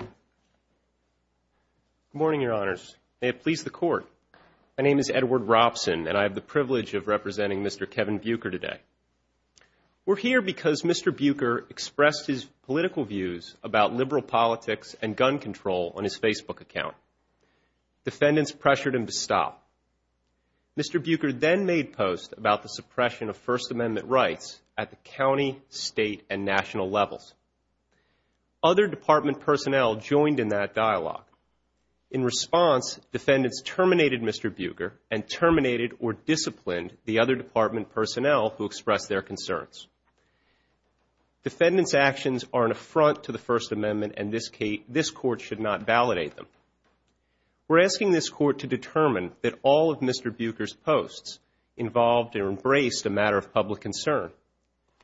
Good morning, Your Honors. May it please the Court, my name is Edward Robson and I have the privilege of representing Mr. Kevin Buker today. We're here because Mr. Buker expressed his political views about liberal politics and gun control on his Facebook account. Defendants pressured him to stop. Mr. Buker then made posts about the suppression of First Amendment rights at the county, state and national levels. Other department personnel joined in that dialogue. In response, defendants terminated Mr. Buker and terminated or disciplined the other department personnel who expressed their concerns. Defendants' actions are an affront to the First Amendment and this Court should not validate them. We're asking this Court to determine that all of Mr. Buker's posts involved or embraced a matter of public concern.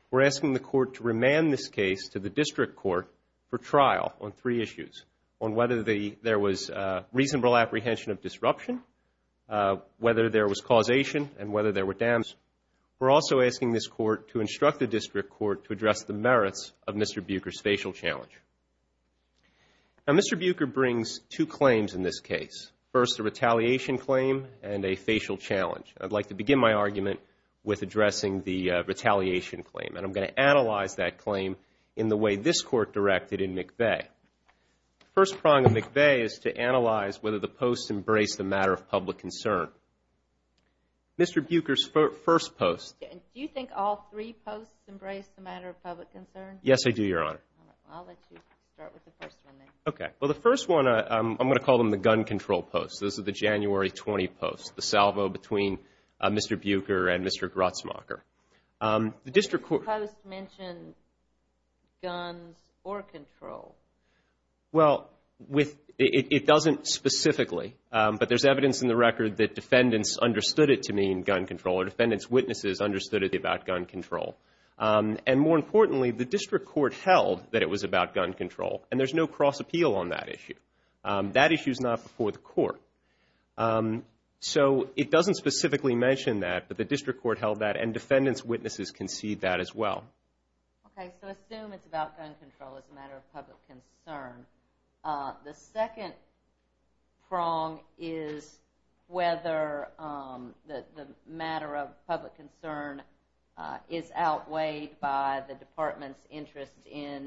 We're asking the Court to remand this case to the District Court for trial on three issues. On whether there was reasonable apprehension of disruption, whether there was causation and whether there were damages. We're also asking this Court to instruct the District Court to address the merits of Mr. Buker's facial challenge. Now, Mr. Buker brings two claims in this case. First, a retaliation claim and a facial challenge. I'd like to look at the retaliation claim and I'm going to analyze that claim in the way this Court directed in McVeigh. The first prong of McVeigh is to analyze whether the posts embraced a matter of public concern. Mr. Buker's first post. Do you think all three posts embraced a matter of public concern? Yes, I do, Your Honor. All right. I'll let you start with the first one then. Okay. Well, the first one, I'm going to call them the gun control posts. Those are the guns or control. Well, it doesn't specifically, but there's evidence in the record that defendants understood it to mean gun control or defendants' witnesses understood it about gun control. And more importantly, the District Court held that it was about gun control and there's no cross appeal on that issue. That issue is not before the Court. So, it doesn't specifically mention that, but the District Court held that and defendants' witnesses concede that as well. Okay. So, assume it's about gun control as a matter of public concern. The second prong is whether the matter of public concern is outweighed by the Department's interest in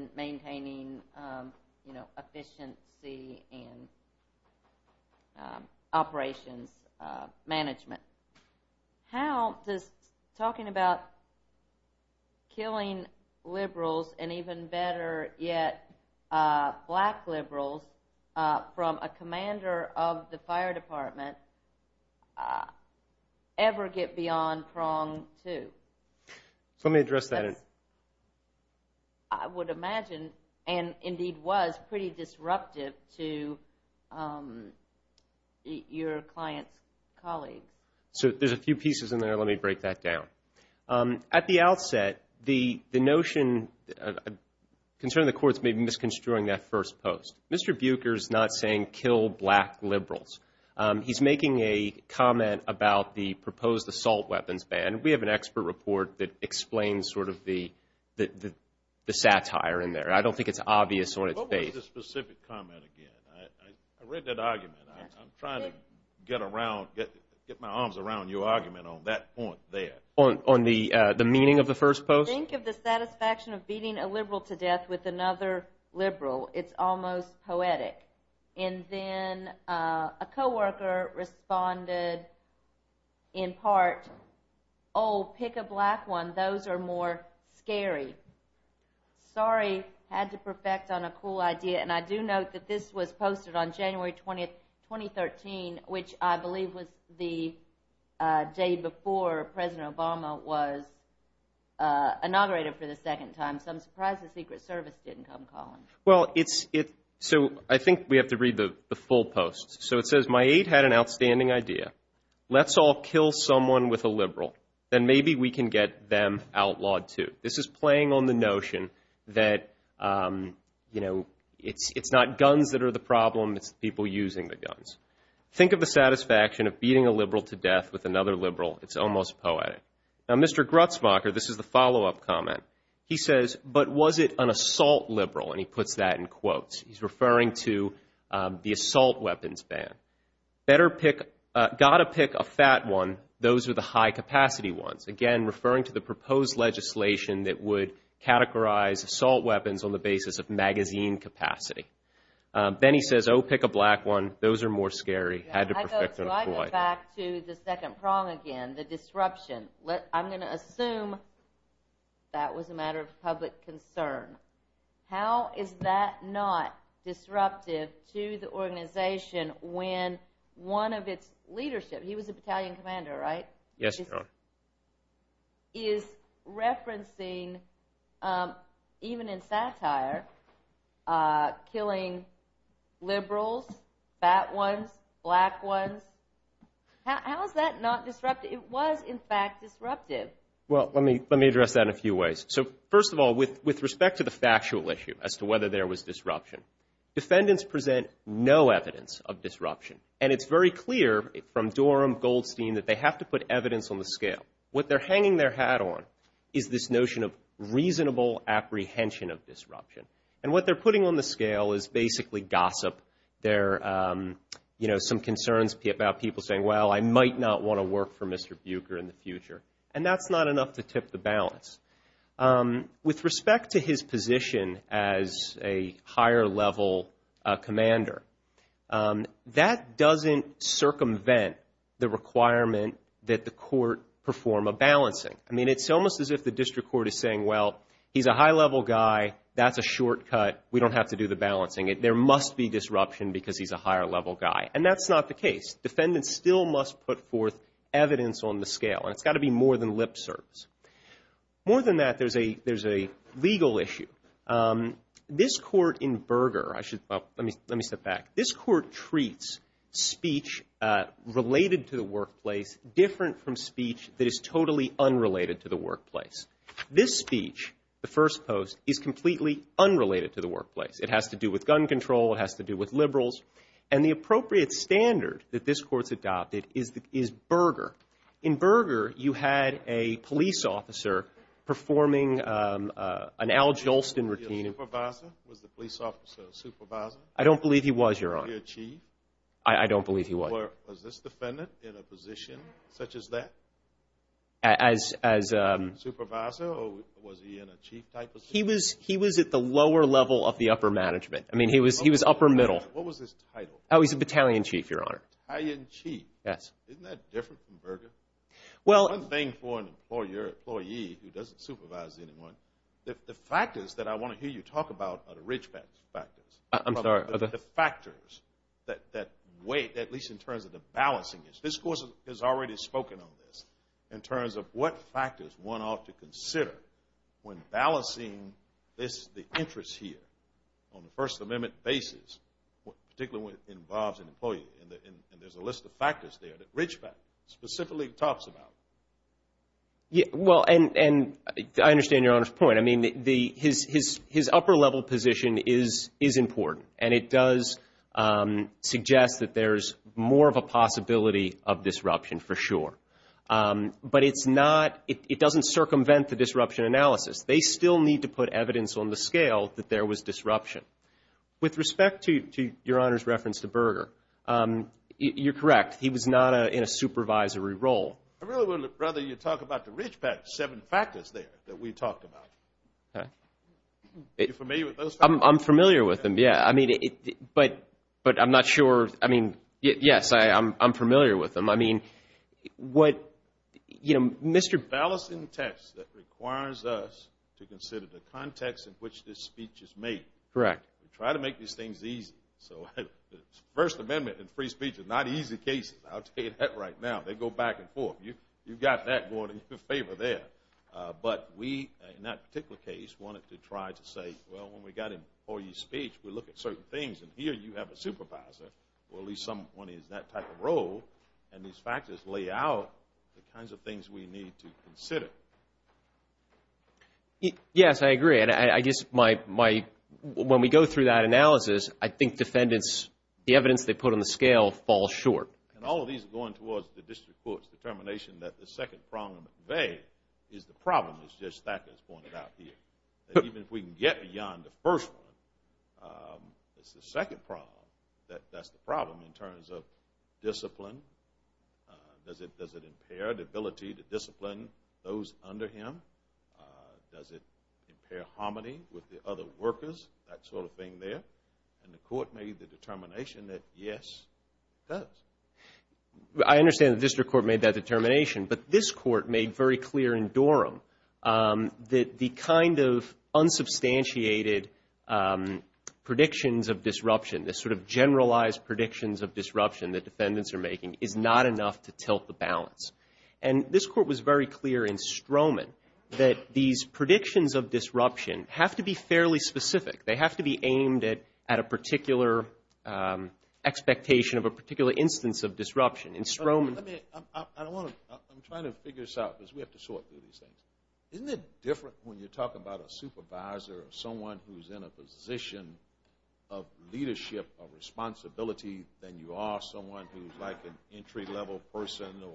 How does talking about killing liberals and even better yet, black liberals from a commander of the fire department ever get beyond prong two? So, let me address that. I would imagine and indeed was pretty disruptive to your client's colleagues. So, there's a few pieces in there. Let me break that down. At the outset, the notion concerning the courts may be misconstruing that first post. Mr. Buecher is not saying kill black liberals. He's making a comment about the proposed assault weapons ban. We have an expert report that explains sort of the satire in there. I don't think it's obvious on its face. I'll make the specific comment again. I read that argument. I'm trying to get my arms around your argument on that point there. On the meaning of the first post? Think of the satisfaction of beating a liberal to death with another liberal. It's almost poetic. And then a co-worker responded in part, oh, pick a black one. Those are more than enough. I do note that this was posted on January 20th, 2013, which I believe was the day before President Obama was inaugurated for the second time. So, I'm surprised the Secret Service didn't come call him. So, I think we have to read the full post. So, it says, my aide had an outstanding idea. Let's all kill someone with a liberal. Then maybe we can get them outlawed too. This is not guns that are the problem. It's people using the guns. Think of the satisfaction of beating a liberal to death with another liberal. It's almost poetic. Now, Mr. Grutzmacher, this is the follow-up comment. He says, but was it an assault liberal? And he puts that in quotes. He's referring to the assault weapons ban. Better pick, got to pick a fat one. Those are the high-capacity ones. Again, referring to the proposed legislation that would categorize assault weapons on the basis of magazine capacity. Then he says, oh, pick a black one. Those are more scary. Had to perfect an employee. I go back to the second prong again, the disruption. I'm going to assume that was a matter of public concern. How is that not disruptive to the organization when one of its leadership, he was a battalion commander, right? Yes, ma'am. Is referencing, even in satire, killing liberals, fat ones, black ones, how is that not disruptive? It was, in fact, disruptive. Well, let me address that in a few ways. So first of all, with respect to the factual issue as to whether there was disruption, defendants present no evidence of disruption. And it's very clear from Dorham, Goldstein, that they have to put evidence on the scale. What they're hanging their hat on is this notion of reasonable apprehension of disruption. And what they're putting on the scale is basically gossip. There are some concerns about people saying, well, I might not want to work for Mr. Buecher in the future. And that's not enough to tip the balance. With respect to his position as a higher-level commander, that doesn't circumvent the requirement that the court perform a balancing. I mean, it's almost as if the district court is saying, well, he's a high-level guy. That's a shortcut. We don't have to do the balancing. There must be disruption because he's a higher-level guy. And that's not the case. Defendants still must put forth evidence on the scale. And it's got to be more than lip service. More than that, there's a legal issue. This court in Berger, I should, let me step back. This court treats speech related to the workplace different from speech that is totally unrelated to the workplace. This speech, the first post, is completely unrelated to the workplace. It has to do with gun control. It has to do with liberals. And the appropriate standard that this court's adopted is Berger. In Berger, you had a police officer performing an Al Jolston routine. Was he a supervisor? Was the police officer a supervisor? I don't believe he was, Your Honor. Was he a chief? I don't believe he was. Or was this defendant in a position such as that? As a Supervisor, or was he in a chief type of position? He was at the lower level of the upper management. I mean, he was upper middle. What was his title? He was a battalion chief, Your Honor. Battalion chief. Yes. Isn't that different from Berger? Well One thing for an employee who doesn't supervise anyone, the factors that I want to hear you talk about are the rich factors. I'm sorry. The factors that weigh, at least in terms of the balancing, this court has already spoken on this, in terms of what factors one ought to consider when balancing the interests here on a First Amendment basis, particularly when it involves an employee. And there's a list of factors there that rich factors, specifically talks about. Well, and I understand Your Honor's point. I mean, his upper level position is important. And it does suggest that there's more of a possibility of disruption for sure. But it's not, it doesn't circumvent the disruption analysis. They still need to put evidence on the scale that there was disruption. With respect to Your Honor's reference to Berger, you're correct. He was not in a supervisory role. I really would rather you talk about the rich seven factors there that we talked about. Okay. Are you familiar with those factors? I'm familiar with them, yeah. I mean, but I'm not sure, I mean, yes, I'm familiar with them. I mean, what, you know, Mr. The balancing test that requires us to consider the context in which this speech is made. Correct. We try to make these things easy. So the First Amendment and free speech are not easy cases. I'll tell you that right now. They go back and forth. You've got that going in your favor there. But we, in that particular case, wanted to try to say, well, when we got an employee speech, we look at certain things. And here you have a supervisor, or at least someone in that type of role. And these factors lay out the kinds of things we need to consider. Yes, I agree. And I guess my, when we go through that analysis, I think defendants, the evidence they put on the scale falls short. And all of these are going towards the District Court's determination that the second problem at bay is the problem is just that that's pointed out here. That even if we can get beyond the first one, it's the second problem that that's the problem in terms of discipline. Does it impair the ability to discipline those under him? Does it impair harmony with the other workers? That sort of thing there. And the Court made the determination that yes, it does. I understand the District Court made that determination. But this Court made very clear in Dorham that the kind of unsubstantiated predictions of disruption that defendants are making is not enough to tilt the balance. And this Court was very clear in Stroman that these predictions of disruption have to be fairly specific. They have to be aimed at a particular expectation of a particular instance of disruption. In Stroman... I'm trying to figure this out because we have to sort through these things. Isn't it different when you're talking about a supervisor or someone who's in a position of leadership or responsibility than you are someone who's like an entry-level person or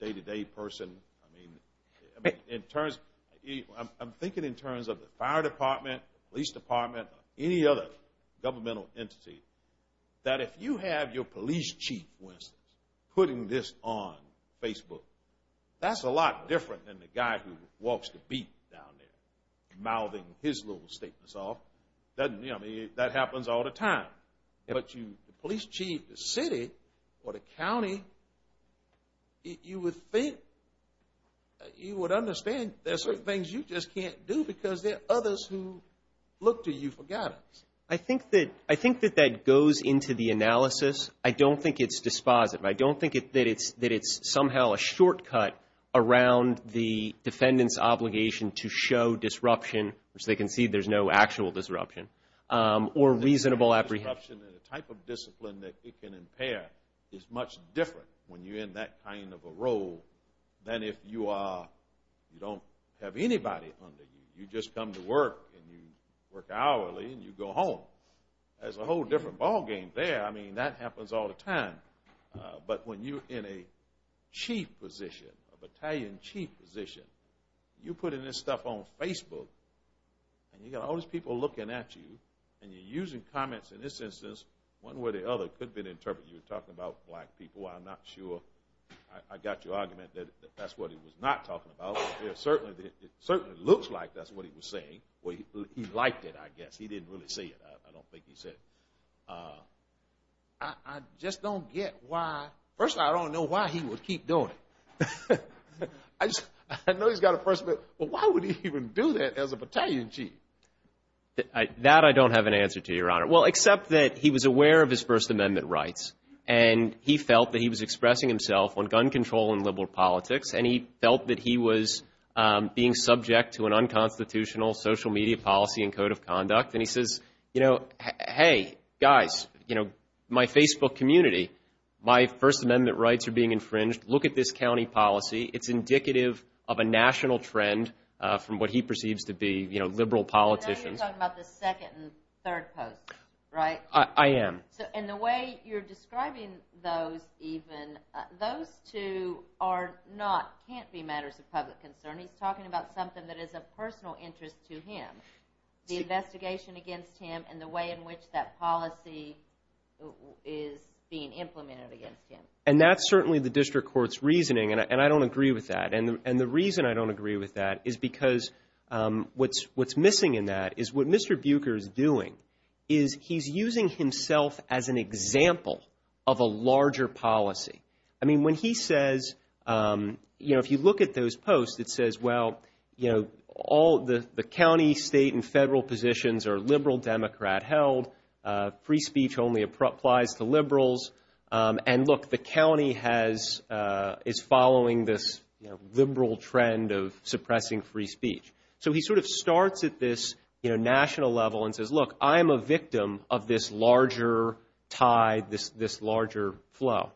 day-to-day person? I mean, in terms... I'm thinking in terms of the fire department, police department, any other governmental entity, that if you have your police chief, for instance, putting this on Facebook, that's a lot different than the guy who walks the beat down there, solving his little statements off. That happens all the time. But the police chief, the city, or the county, you would think, you would understand there are certain things you just can't do because there are others who look to you for guidance. I think that that goes into the analysis. I don't think it's dispositive. I don't think that it's somehow a shortcut around the defendant's obligation to show disruption, which they can see there's no actual disruption, or reasonable apprehension. Disruption and the type of discipline that it can impair is much different when you're in that kind of a role than if you don't have anybody under you. You just come to work, and you work hourly, and you go home. There's a whole different ballgame there. I mean, that happens all the time. But when you're in a chief position, a battalion chief position, you're putting this stuff on Facebook, and you've got all these people looking at you, and you're using comments, in this instance, one way or the other could be to interpret you talking about black people. I'm not sure. I got your argument that that's what he was not talking about. It certainly looks like that's what he was saying. He liked it, I guess. He didn't really say it. I don't think he said it. I just don't get why. First of all, I don't know why he would keep doing it. I know he's got a First Amendment, but why would he even do that as a battalion chief? That I don't have an answer to, Your Honor. Well, except that he was aware of his First Amendment rights, and he felt that he was expressing himself on gun control and liberal politics, and he felt that he was being subject to an unconstitutional social media policy and code of conduct. And he says, hey, guys, my Facebook community, my First Amendment rights are being infringed. Look at this county policy. It's indicative of a national trend from what he perceives to be, you know, liberal politicians. I know you're talking about the second and third posts, right? I am. And the way you're describing those even, those two are not, can't be matters of public concern. He's talking about something that is of personal interest to him. The investigation against him and the way in which that policy is being implemented against him. And that's certainly the district court's reasoning, and I don't agree with that. And the reason I don't agree with that is because what's missing in that is what Mr. Buecher is doing is he's using himself as an example of a larger policy. I mean, when he says, you know, if you look at those posts, it says, well, you know, all the county, state, and federal positions are liberal Democrat held. Free speech only applies to liberals. And look, the county has, is following this, you know, liberal trend of suppressing free speech. So he sort of starts at this, you know, national level and says, look, I am a victim of this larger tide, this larger flow.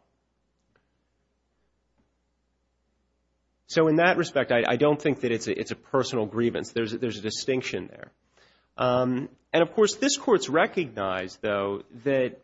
So in that respect, I don't think that it's a personal grievance. There's a distinction there. And of course, this court's recognized, though, that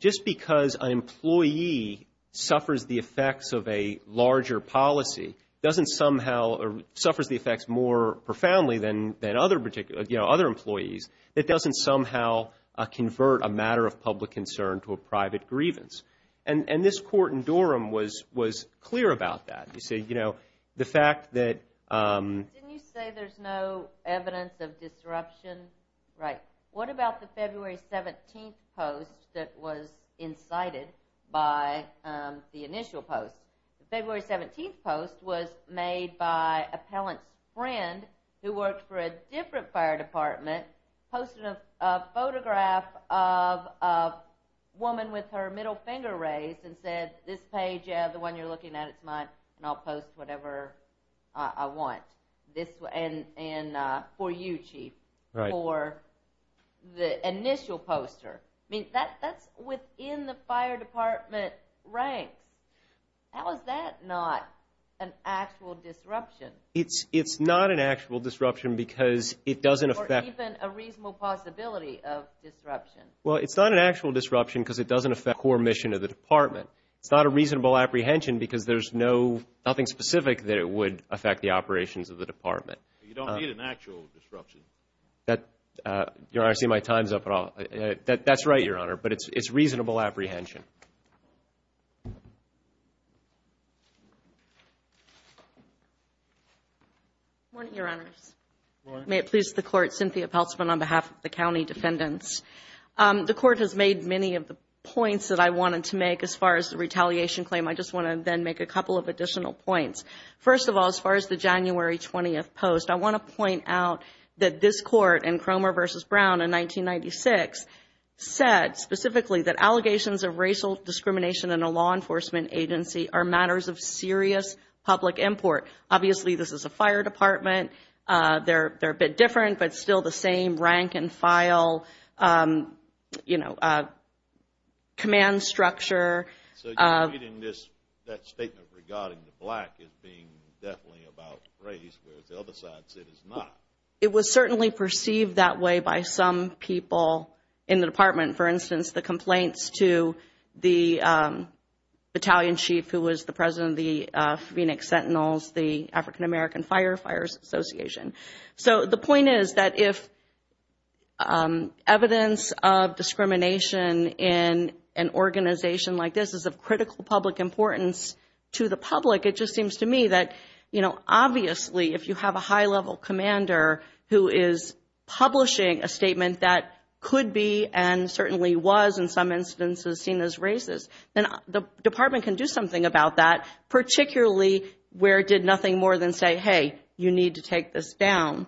just because an employee suffers the effects of a larger policy doesn't somehow, or suffers the effects more profoundly than other particular, you know, other employees, that doesn't somehow convert a matter of public concern to a private grievance. And this court in Durham was clear about that. They say, you know, the fact that... Didn't you say there's no evidence of disruption? Right. What about the February 17th post that was incited by the initial post? The February 17th post was made by an appellant's friend who worked for a different fire department, posted a photograph of a woman with her middle finger raised and said, this page, the one you're looking at, it's mine, and I'll post whatever I want. And for you, Chief. Right. For the initial poster. I mean, that's within the fire department ranks. How is that not an actual disruption? It's not an actual disruption because it doesn't affect... Or even a reasonable possibility of disruption. Well, it's not an actual disruption because it doesn't affect the core mission of the department. It's not a reasonable apprehension because there's nothing specific that it would affect the operations of the department. You don't need an actual disruption. Your Honor, I see my time's up. That's right, Your Honor, but it's reasonable apprehension. Good morning, Your Honors. Good morning. May it please the Court. Cynthia Peltzman on behalf of the County Defendants. The Court has made many of the points that I wanted to make as far as the retaliation claim. I just want to then make a couple of additional points. First of all, as far as the January 20th post, I want to point out that this Court in Cromer v. Brown in 1996 said specifically that allegations of racial discrimination in a law enforcement agency are matters of serious public import. Obviously, this is a fire department. They're a bit different, but still the same rank and file, you know, command structure. So you're reading that statement regarding the black as being definitely about race, whereas the other side said it's not. It was certainly perceived that way by some people in the department. For instance, the complaints to the battalion chief who was the president of the Phoenix Sentinels, the African American Firefighters Association. So the point is that if evidence of discrimination in an organization like this is of critical public importance to the public, it just seems to me that, you know, obviously if you have a high-level commander who is publishing a statement that could be and certainly was in some instances seen as racist, then the department can do something about that, particularly where it did nothing more than say, hey, you need to take this down.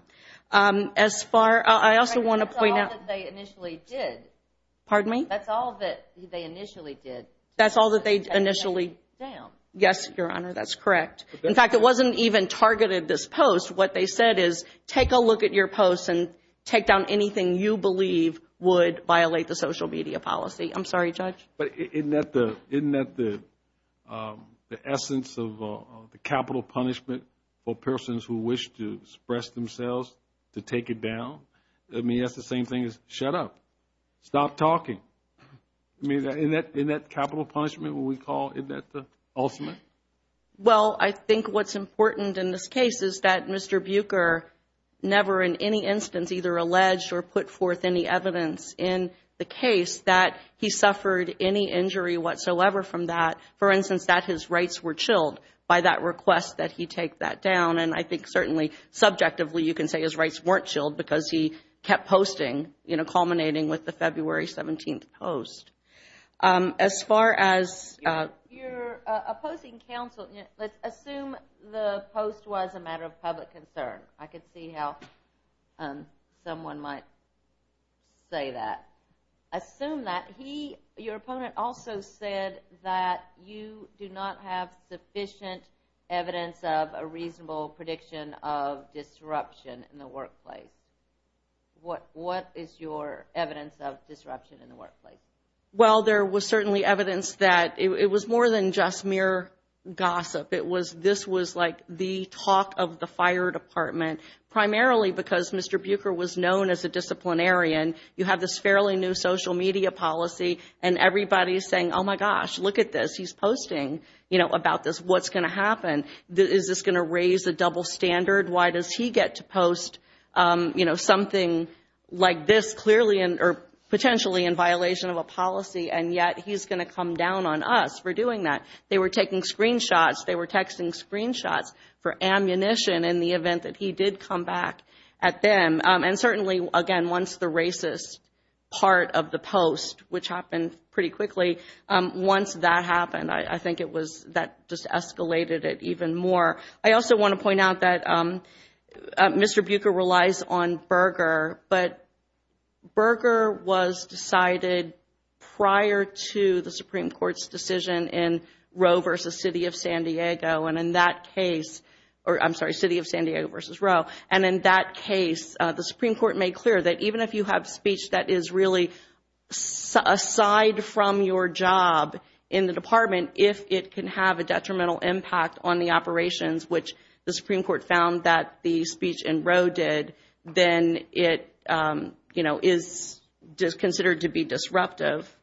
As far... I also want to point out... That's all that they initially did. Pardon me? That's all that they initially did. That's all that they initially... And then they took it down. Yes, Your Honor, that's correct. In fact, it wasn't even targeted this post. What they said is take a look at your post and take down anything you believe would violate the social media policy. I'm sorry, Judge. But isn't that the essence of the capital punishment for persons who wish to express themselves to take it down? I mean, that's the same thing as shut up. Stop talking. I mean, isn't that capital punishment, what we call... Isn't that the ultimate? Well, I think what's important in this case is that Mr. Buecher never in any instance either alleged or put forth any evidence in the case that he suffered any injury whatsoever from that. For instance, that his rights were chilled by that request that he take that down. And I think certainly subjectively, you can say his rights weren't chilled because he kept posting, culminating with the February 17th post. As far as... You're opposing counsel. Let's assume the post was a matter of public concern. I could see how someone might say that. Assume that. Your opponent also said that you do not have sufficient evidence of a reasonable prediction of disruption in the workplace. What is your evidence of disruption in the workplace? Well, there was certainly evidence that it was more than just mere gossip. This was like the talk of the fire department, primarily because Mr. Buecher was known as a disciplinarian. You have this fairly new social media policy and everybody's saying, oh, my gosh, look at this. He's posting, you know, about this. What's going to happen? Is this going to raise a double standard? Why does he get to post, you know, something like this clearly or potentially in violation of a policy and yet he's going to come down on us for doing that? They were taking screenshots. They were texting screenshots for ammunition in the event that he did come back at them. And certainly, again, once the racist part of the post, which happened pretty quickly, once that happened, I think it was that just escalated it even more. I also want to point out that Mr. Buecher relies on Berger, but Berger was decided prior to the Supreme Court's decision in Roe v. City of San Diego. And in that case, or I'm sorry, City of San Diego v. Roe. And in that case, the Supreme Court made clear that even if you have speech that is really aside from your job in the department, if it can have a detrimental impact on the operations, which the Supreme Court found that the speech in Roe did, then it, you know, is considered to be disruptive.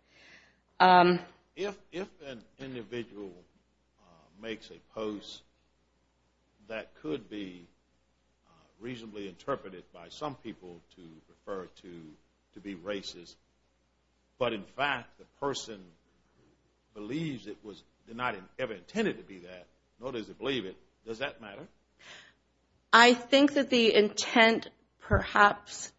If an individual makes a post that could be reasonably interpreted by some people to refer to to be racist, but in fact the person believes it was not ever intended to be that, nor does it believe it, does that matter? I think that the intent perhaps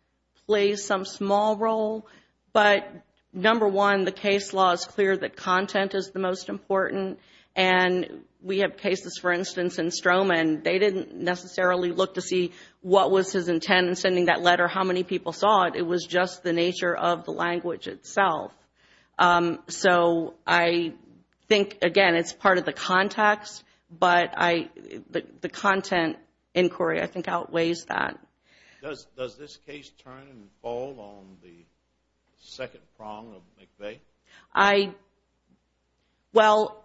plays some small role. But number one, the case law is clear that content is the most important. And we have cases, for instance, in Stroman. They didn't necessarily look to see what was his intent in sending that letter, how many people saw it. It was just the nature of the language itself. So I think, again, it's part of the context, but the content inquiry, I think, outweighs that. Does this case turn and fall on the second prong of McVeigh? I, well,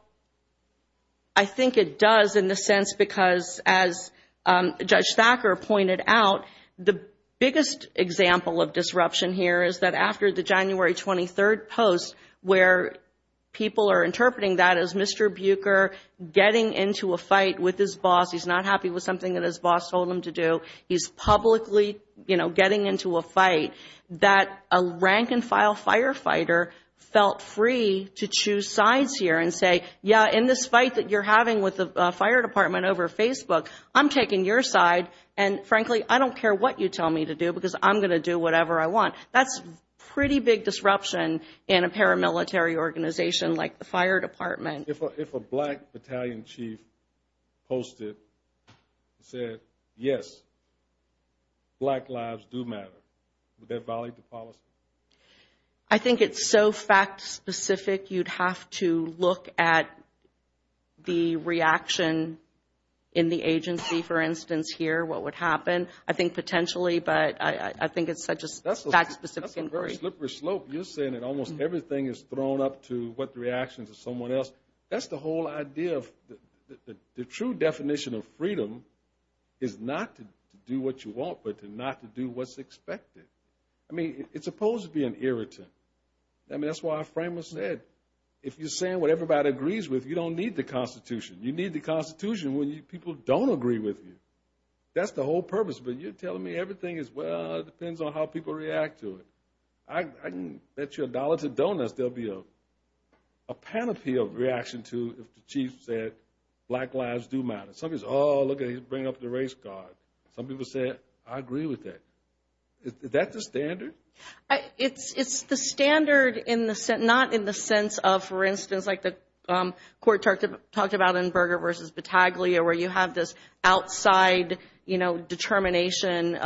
I think it does in the sense because as Judge Thacker pointed out, the biggest example of disruption here is that after the January 23rd post where people are interpreting that as Mr. Buecher getting into a fight with his boss. He's not happy with something that his boss told him to do. He's publicly, you know, getting into a fight that a rank-and-file firefighter felt free to choose sides here and say, yeah, in this fight that you're having with the fire department over Facebook, I'm taking your side, and frankly, I don't care what you tell me to do because I'm going to do whatever I want. That's pretty big disruption in a paramilitary organization like the fire department. If a black battalion chief posted and said, yes, black lives do matter, would that violate the policy? I think it's so fact-specific, you'd have to look at the reaction in the agency, for instance, here, what would happen, I think potentially, but I think it's such a fact-specific inquiry. You're saying that almost everything is thrown up to what the reactions of someone else, that's the whole idea of the true definition of freedom is not to do what you want but to not to do what's expected. I mean, it's supposed to be an irritant. I mean, that's why our framework said you don't need the Constitution. You need the Constitution when people don't agree with you. That's the whole purpose, but you're telling me everything is, well, it depends on how people react to it. I can bet you a dollar to donuts there'll be a panoply of reaction to if the chief said black lives do matter. Some people say, I agree with that. Is that the standard? It's the standard, not in the sense of, for instance, like the court talked about in Berger v. Battaglia where you have this outside determination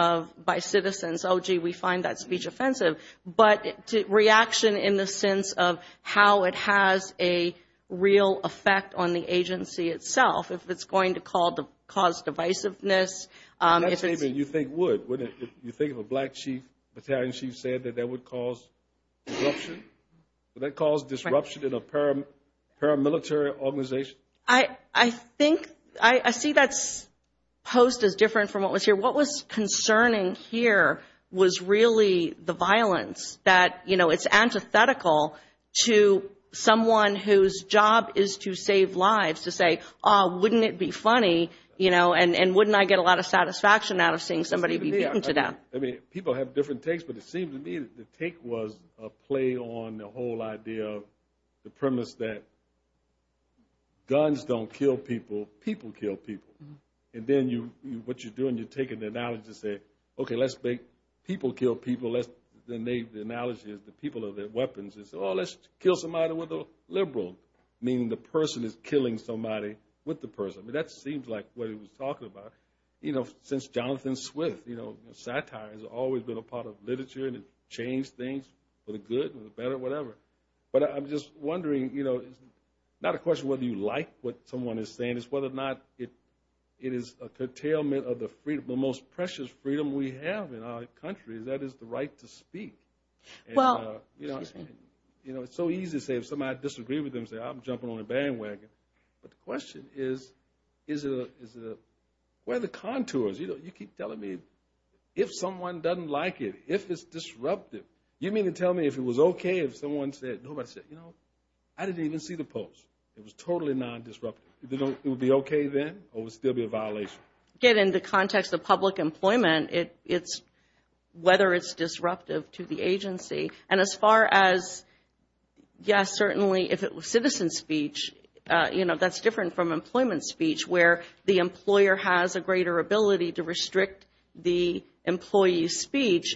by citizens, oh, gee, we find that speech offensive, but reaction in the sense of how it has a real effect on the agency itself, if it's going to cause divisiveness. That statement you think would. You think if a black battalion chief said that that would cause disruption? Would that cause disruption in a paramilitary organization? I see that post as different from what was here. What was concerning here was really the violence. It's antithetical to someone whose job is to save lives to say, wouldn't it be funny and wouldn't I get a lot of satisfaction out of seeing somebody be beaten to death. People have different takes, but it seemed to me the take was a play on the whole idea of the premise that guns don't kill people. People kill people. Then what you're doing, you're taking the analogy to say, okay, let's make people kill people. The analogy is the people are the weapons. Let's kill somebody with a liberal, meaning the person is killing somebody with the person. That seems like what he was talking about since Jonathan Swift. Satire has always been a part of literature and it changed things for the good, but I'm just wondering, it's not a question whether you like what someone is saying, it's whether or not it is a curtailment of the most precious freedom we have in our country that is the right to speak. It's so easy to say if somebody disagrees with them, say I'm jumping on a bandwagon, but the question is where are the contours? You keep telling me if someone doesn't like it, if it's disruptive. You mean to tell me if it was okay if someone said, nobody said, I didn't even see the post. It was totally non-disruptive. It would be okay then or it would still be a violation? Get in the context of public employment, whether it's disruptive to the agency. As far as, yes, certainly if it was citizen speech, that's different from employment speech where the employer has a greater ability to restrict the employee's speech.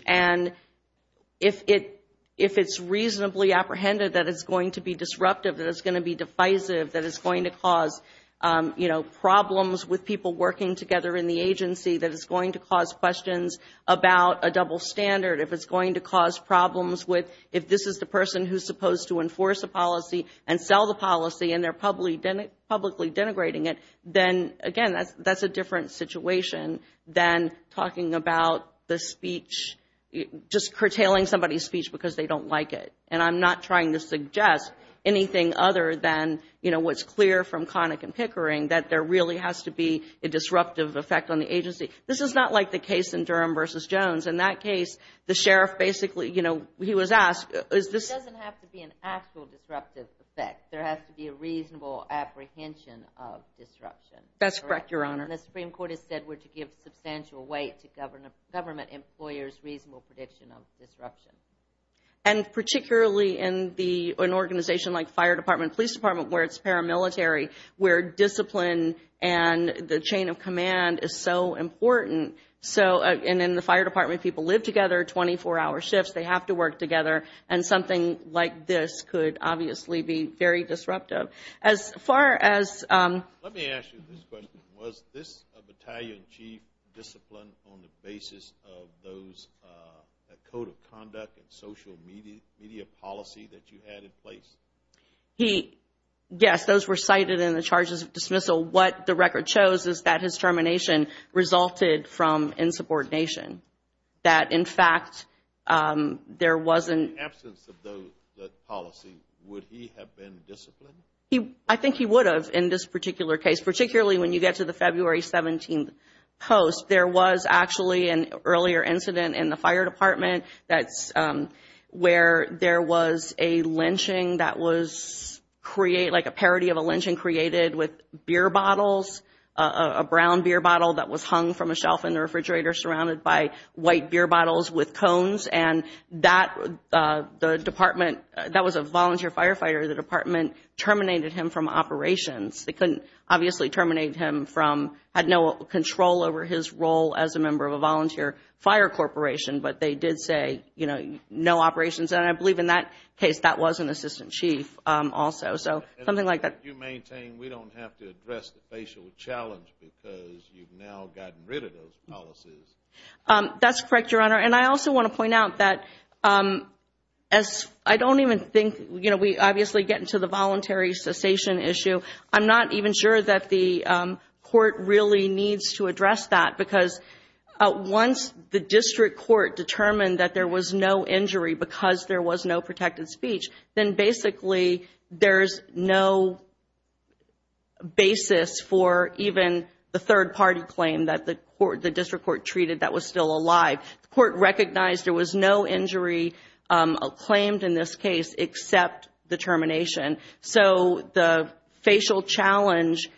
If it's reasonably apprehended that it's going to be disruptive, that it's going to be divisive, that it's going to cause problems with people working together in the agency, that it's going to cause questions about a double standard, if it's going to cause problems with if this is the person who's supposed to enforce a policy and sell the policy and they're publicly denigrating it, then again, that's a different situation than talking about the speech, just curtailing somebody's speech because they don't like it. And I'm not trying to suggest anything other than what's clear from Connick and Pickering that there really has to be a disruptive effect on the agency. This is not like the case in Durham v. Jones. In that case, the sheriff basically, he was asked... It doesn't have to be an actual disruptive effect. There has to be a reasonable apprehension of disruption. That's correct, Your Honor. And the Supreme Court has said we're to give substantial weight to government employers' reasonable prediction of disruption. And particularly in an organization like Fire Department, Police Department, where it's paramilitary, where discipline and the chain of command is so important. And in the Fire Department, people live together, 24-hour shifts, they have to work together, and something like this could obviously be very disruptive. As far as... Let me ask you this question. Was this battalion chief disciplined on the basis of those code of conduct and social media policy that you had in place? Yes, those were cited in the charges of dismissal. What the record shows is that his termination resulted from insubordination. That, in fact, there wasn't... In the absence of that policy, would he have been disciplined? I think he would have in this particular case, particularly when you get to the February 17th post. There was actually an earlier incident in the Fire Department that's where there was a lynching that was create... Like a parody of a lynching created with beer bottles, a brown beer bottle that was hung from a shelf in the refrigerator surrounded by white beer bottles with cones. And that, the department... That was a volunteer firefighter. The department terminated him from operations. They couldn't obviously terminate him from... But they did say no operations. And I believe in that case, that was an assistant chief also. Something like that. We don't have to address the facial challenge because you've now gotten rid of those policies. That's correct, Your Honor. And I also want to point out that as I don't even think... We obviously get into the voluntary cessation issue. I'm not even sure that the court really needs to address that because once the district court determined that there was no injury because there was no protected speech, then basically there's no basis for even the third-party claim that the district court treated that was still alive. The court recognized there was no injury claimed in this case except the termination. So the facial challenge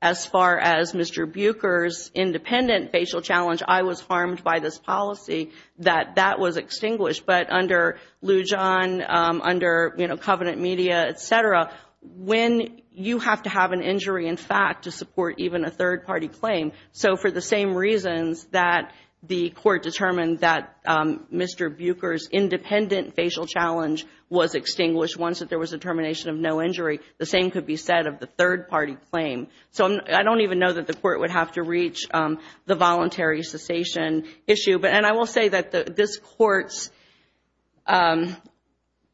as far as Mr. Buecher's independent facial challenge, I was harmed by this policy that that was extinguished. But under Lujan, under Covenant Media, etc., when you have to have an injury in fact to support even a third-party claim. So for the same reasons that the court determined that Mr. Buecher's independent facial challenge was extinguished once that there was a termination of no injury, the same could be said of the third-party claim. So I don't even know that the court would have to reach the voluntary cessation issue. And I will say that this court's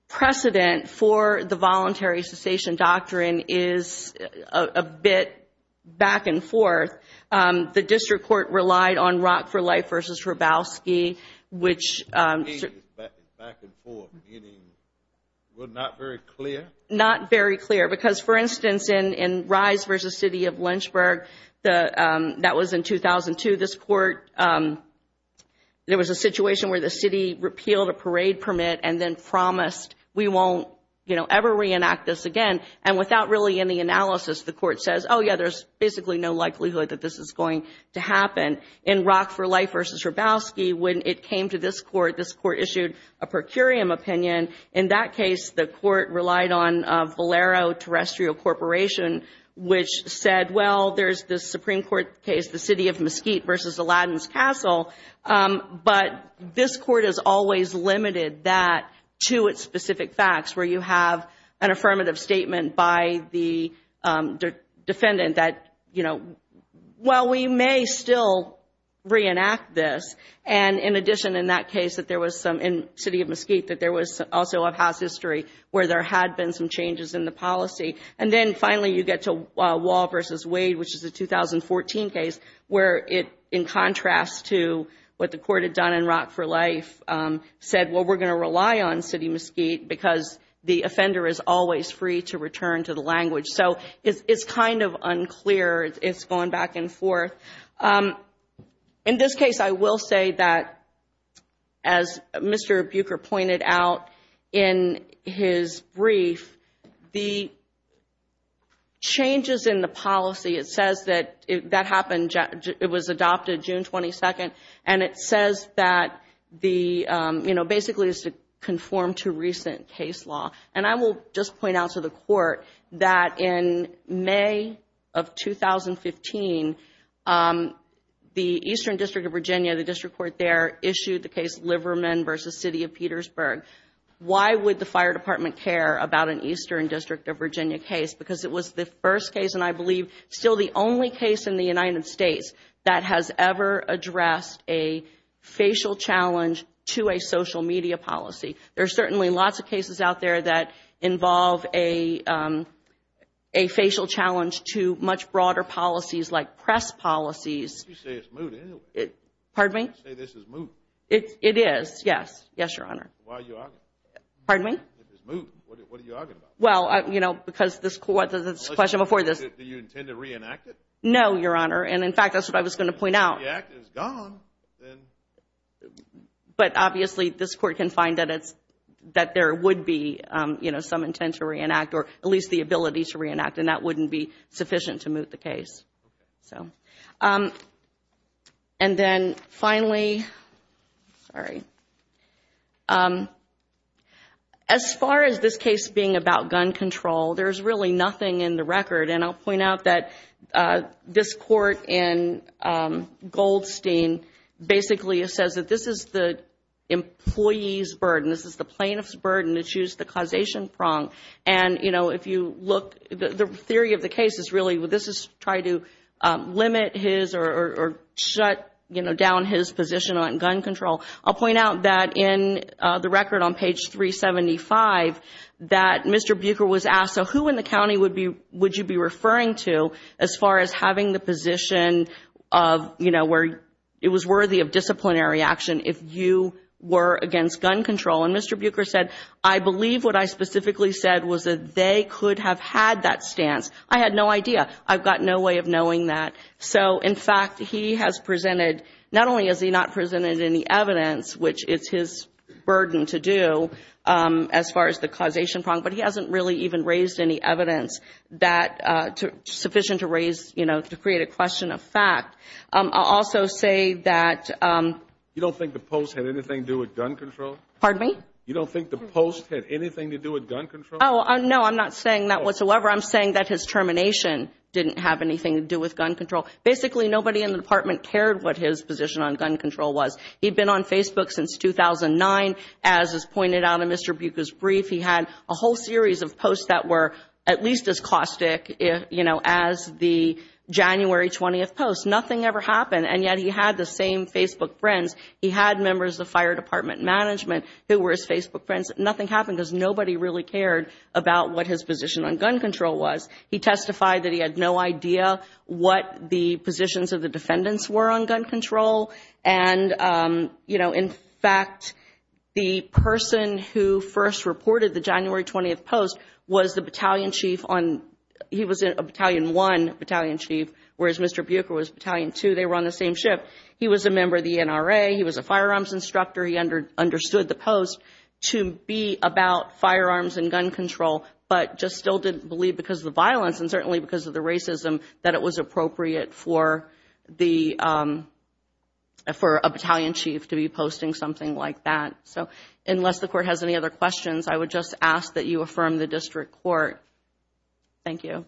precedent for the voluntary cessation doctrine is a bit back and forth. The district court relied on Rock for Life v. Hrabowski, which... Back and forth, meaning we're not very clear? Not very clear. Because, for instance, in Rise v. City of Lynchburg, that was in 2002, this court, there was a situation where the city repealed a parade permit and then promised we won't ever reenact this again. And without really any analysis, the court says, oh yeah, there's basically no likelihood that this is going to happen. In Rock for Life v. Hrabowski, when it came to this court, this court issued a per curiam opinion. In that case, the court relied on Valero Terrestrial Corporation, which said, well, there's this Supreme Court case, the City of Mesquite v. Aladdin's Castle, but this court has always limited that to its specific facts, where you have an affirmative statement by the defendant that, well, we may still reenact this. And in addition, in that case, in City of Mesquite, that there was also a house history where there had been some changes in the policy. And then finally you get to Wall v. Wade, which is a 2014 case, where in contrast to what the court had done in Rock for Life, said, well, we're going to rely on City Mesquite because the offender is always free to return to the language. So it's kind of unclear. It's going back and forth. In this case, I will say that as Mr. Buecher pointed out in his brief, the changes in the policy, it says that it was adopted basically it's to conform to recent case law. And I will just point out to the court that in May of 2015, the Eastern District of Virginia, the district court there, issued the case Liverman v. City of Petersburg. Why would the Fire Department care about an Eastern District of Virginia case? Because it was the first case, and I believe still the only case in the United States that has ever addressed a facial challenge to a social media policy. There are certainly lots of cases out there that involve a facial challenge to much broader policies like press policies. It is, yes. Yes, Your Honor. Pardon me? Do you intend to reenact it? No, Your Honor. And in fact, that's what I was going to point out. If the act is gone, then... But obviously, this court can find that there would be some intent to reenact, or at least the ability to reenact, and that wouldn't be sufficient to move the case. Okay. And then finally, sorry, as far as this case being about gun control, there's really nothing in the record, and I'll point out that this court in Goldstein basically says that this is the employee's burden. This is the plaintiff's burden to choose the causation prong. And if you look, the theory of the case is really, this is trying to limit his or shut down his position on gun control. I'll point out that in the record on page 375 that Mr. Buecher was asked, So who in the county would you be referring to as far as having the position where it was worthy of disciplinary action if you were against gun control? And Mr. Buecher said, I believe what I specifically said was that they could have had that stance. I had no idea. I've got no way of knowing that. So in fact, he has presented, not only has he not presented any evidence, which is his burden to do as far as the causation prong, but he hasn't really even raised any evidence that sufficient to raise, you know, to create a question of fact. I'll also say that, You don't think the post had anything to do with gun control? Pardon me? You don't think the post had anything to do with gun control? No, I'm not saying that whatsoever. I'm saying that his termination didn't have anything to do with gun control. Basically, nobody in the department cared what his position on gun control was. He'd been on Facebook since 2009. As is pointed out in Mr. Buecher's brief, he had a whole series of posts that were at least as caustic as the January 20th post. Nothing ever happened, and yet he had the same Facebook friends. He had members of the fire department management who were his Facebook friends. Nothing happened because nobody really cared about what his position on gun control was. He testified that he had no idea what the positions of the you know, in fact, the person who first reported the January 20th post was the battalion chief on, he was a battalion one battalion chief, whereas Mr. Buecher was battalion two. They were on the same ship. He was a member of the NRA. He was a firearms instructor. He understood the post to be about firearms and gun control but just still didn't believe because of the violence and certainly because of the racism that it was appropriate for the, for a battalion chief to be posting something like that. So, unless the court has any other questions, I would just ask that you affirm the district court. Thank you.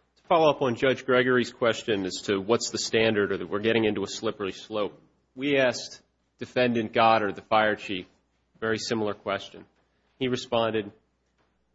To follow up on Judge Gregory's question as to what's the standard or that we're getting into a slippery slope, we asked defendant Goddard, the fire chief, a very similar question. He responded,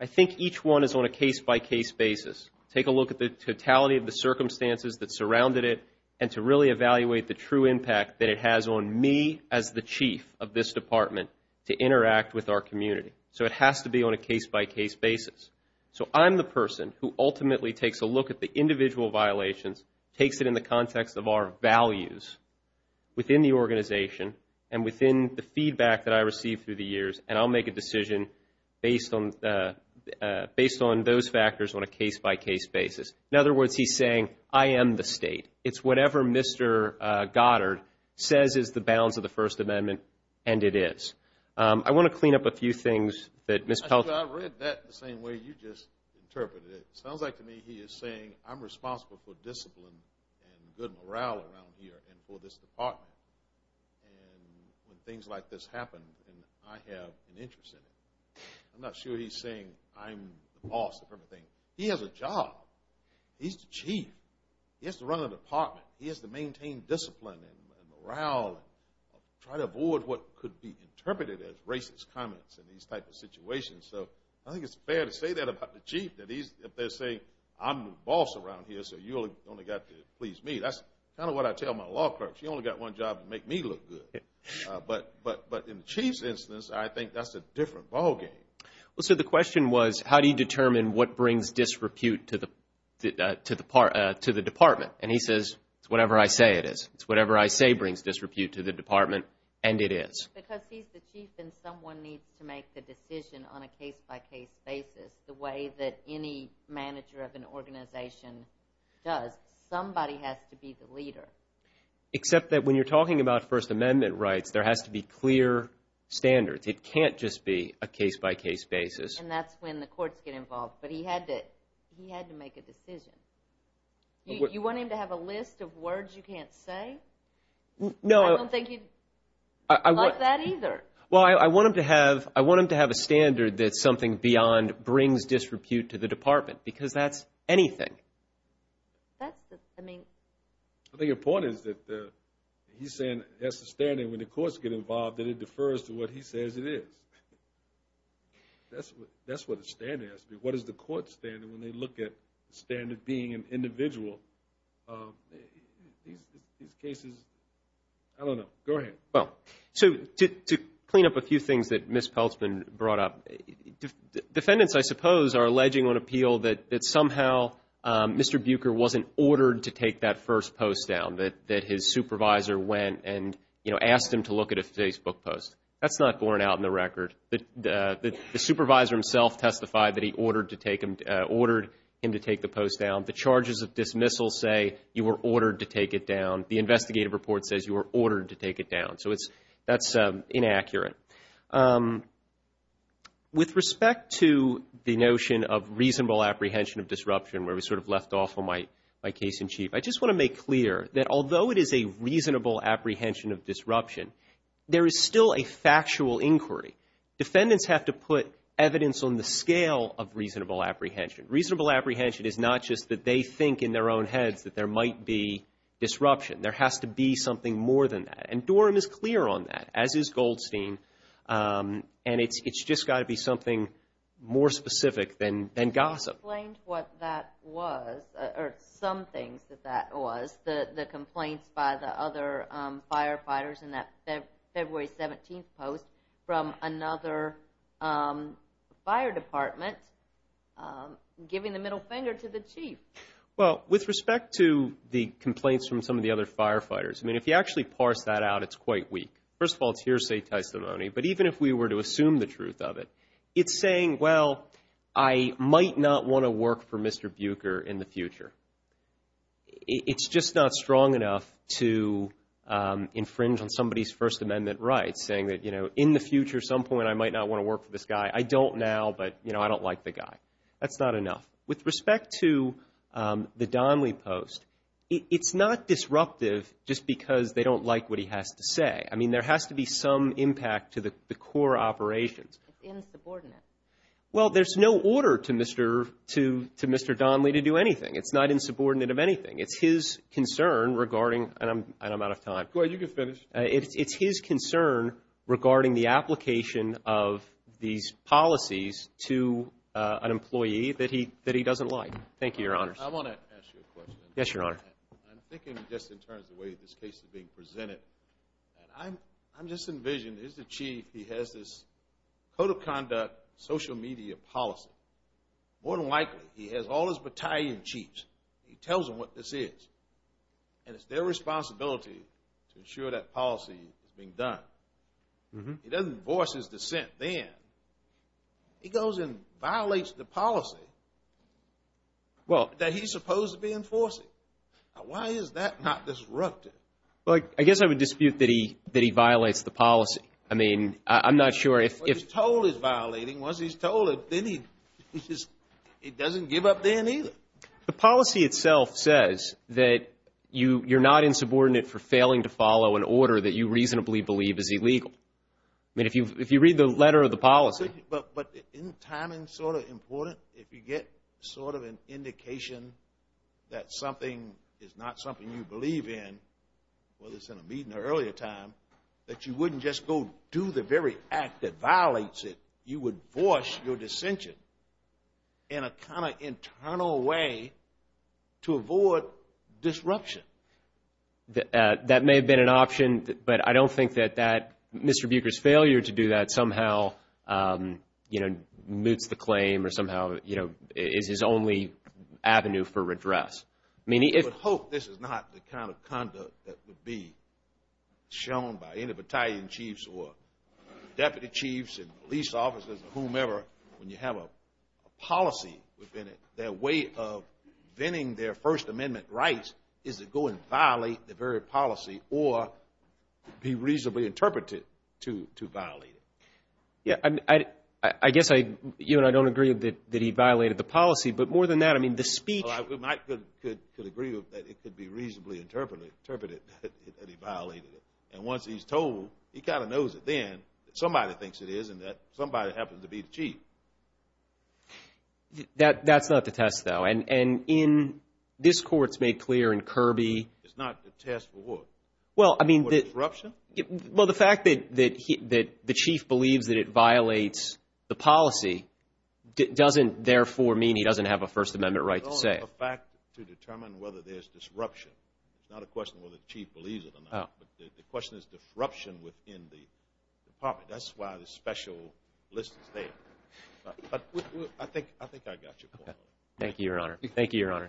I think each one is on a case by case basis. Take a look at the totality of the circumstances that surrounded it and to really evaluate the true impact that it has on me as the chief of this department to interact with our community. So, it has to be on a case by case basis. So, I'm the person who ultimately takes a look at the individual violations, takes it in the context of our values within the organization and within the feedback that I received through the years and I'll make a decision based on those factors on a case by case basis. In other words, he's saying I am the state. It's whatever Mr. Goddard says is the bounds of the First Amendment and it is. I want to clean up a few things that Ms. Pelton. I read that the same way you just interpreted it. It sounds like to me he is saying I'm responsible for discipline and good morale around here and for this department. And when things like this happen and I have an interest in it I'm not sure he's saying I'm the boss of everything. He has a job. He's the chief. He has to run the department. He has to maintain discipline and morale and try to avoid what could be interpreted as racist comments in these types of situations. So, I think it's fair to say that about the chief that if they're saying I'm the boss around here so you only got to please me. That's kind of what I tell my law clerk. She only got one job to make me look good. But in the chief's instance, I think that's a different ball game. So, the question was how do you determine what brings disrepute to the department? And he says it's whatever I say it is. It's whatever I say brings disrepute to the department and it is. Because he's the chief and someone needs to make the decision on a case-by-case basis the way that any manager of an organization does. Somebody has to be the leader. Except that when you're talking about First Amendment rights, there has to be clear standards. It can't just be a case-by-case basis. And that's when the courts get involved. But he had to make a decision. You want him to have a list of words you can't say? No. I don't think he'd like that either. Well, I want him to have a standard that's something beyond brings disrepute to the department. Because that's anything. I think the point is that he's saying that's the standard when the courts get involved that it defers to what he says it is. That's what the standard has to be. What is the court's standard when they look at the standard being an individual? These cases, I don't know. Go ahead. To clean up a few things that Ms. Peltzman brought up, defendants, I suppose, are alleging on appeal that somehow Mr. Buecher wasn't ordered to take that first post down. That his supervisor went and asked him to look at a Facebook post. That's not going out in the record. The supervisor himself testified that he ordered him to take the post down. The charges of dismissal say you were ordered to take it down. The investigative report says you were ordered to take it down. So that's inaccurate. With respect to the notion of reasonable apprehension of disruption where we sort of left off on my case in chief, I just want to make clear that although it is a reasonable apprehension of disruption, there is still a factual inquiry. Defendants have to put evidence on the scale of reasonable apprehension. Reasonable apprehension is not just that they think in their own heads that there might be disruption. There has to be something more than that. And Dorham is clear on that, as is Goldstein. And it's just got to be something more specific than gossip. Some things that that was, the complaints by the other firefighters in that February 17th post from another fire department giving the middle finger to the chief. Well, with respect to the complaints from some of the other firefighters, I mean, if you actually parse that out, it's quite weak. First of all, it's hearsay testimony. But even if we were to assume the truth of it, it's saying, well, I might not want to work for Mr. Buecher in the future. It's just not strong enough to infringe on somebody's First Amendment rights saying that, you know, in the future, at some point, I might not want to work for this guy. I don't now, but, you know, I don't like the guy. That's not enough. With respect to the Donley post, it's not disruptive just because they don't like what he has to say. I mean, there has to be some impact to the core operations. It's insubordinate. Well, there's no order to Mr. Donley to do anything. It's not insubordinate of anything. It's his concern regarding and I'm out of time. Go ahead. You can finish. It's his concern regarding the application of these policies to an employee that he doesn't like. Thank you, Your Honors. I want to ask you a question. Yes, Your Honor. I'm thinking just in terms of the way this case is being presented. I'm just envisioning, here's the chief. He has this code of conduct social media policy. More than likely, he has all his battalion chiefs. He tells them what this is. And it's their He doesn't voice his dissent then. He goes and violates the policy that he's supposed to be enforcing. Why is that not disruptive? I guess I would dispute that he violates the policy. I mean, I'm not sure if... Once he's told he's violating, once he's told it, then he just doesn't give up then either. The policy itself says that you're not insubordinate for failing to believe is illegal. I mean, if you read the letter of the policy... But isn't timing sort of important? If you get sort of an indication that something is not something you believe in, whether it's in a meeting or earlier time, that you wouldn't just go do the very act that violates it. You would voice your dissension in a kind of internal way to avoid disruption. That may have been an option, but I don't think that Mr. Buecher's failure to do that somehow moots the claim or somehow is his only avenue for redress. I hope this is not the kind of conduct that would be shown by any battalion chiefs or deputy chiefs and police officers or whomever when you have a policy within it. The way of venting their First Amendment rights is to go and violate the very policy or be reasonably interpreted to violate it. I guess you and I don't agree that he violated the policy, but more than that, the speech... I could agree that it could be reasonably interpreted that he violated it. And once he's told, he kind of knows it then that somebody thinks it is and that somebody happens to be the chief. That's not the test, though. This Court's made clear in Kirby... It's not the test for what? For disruption? Well, the fact that the chief believes that it violates the policy doesn't therefore mean he doesn't have a First Amendment right to say. It's only a fact to determine whether there's disruption. It's not a question of whether the chief believes it or not. The question is disruption within the department. That's why the special list is there. I think I got your point.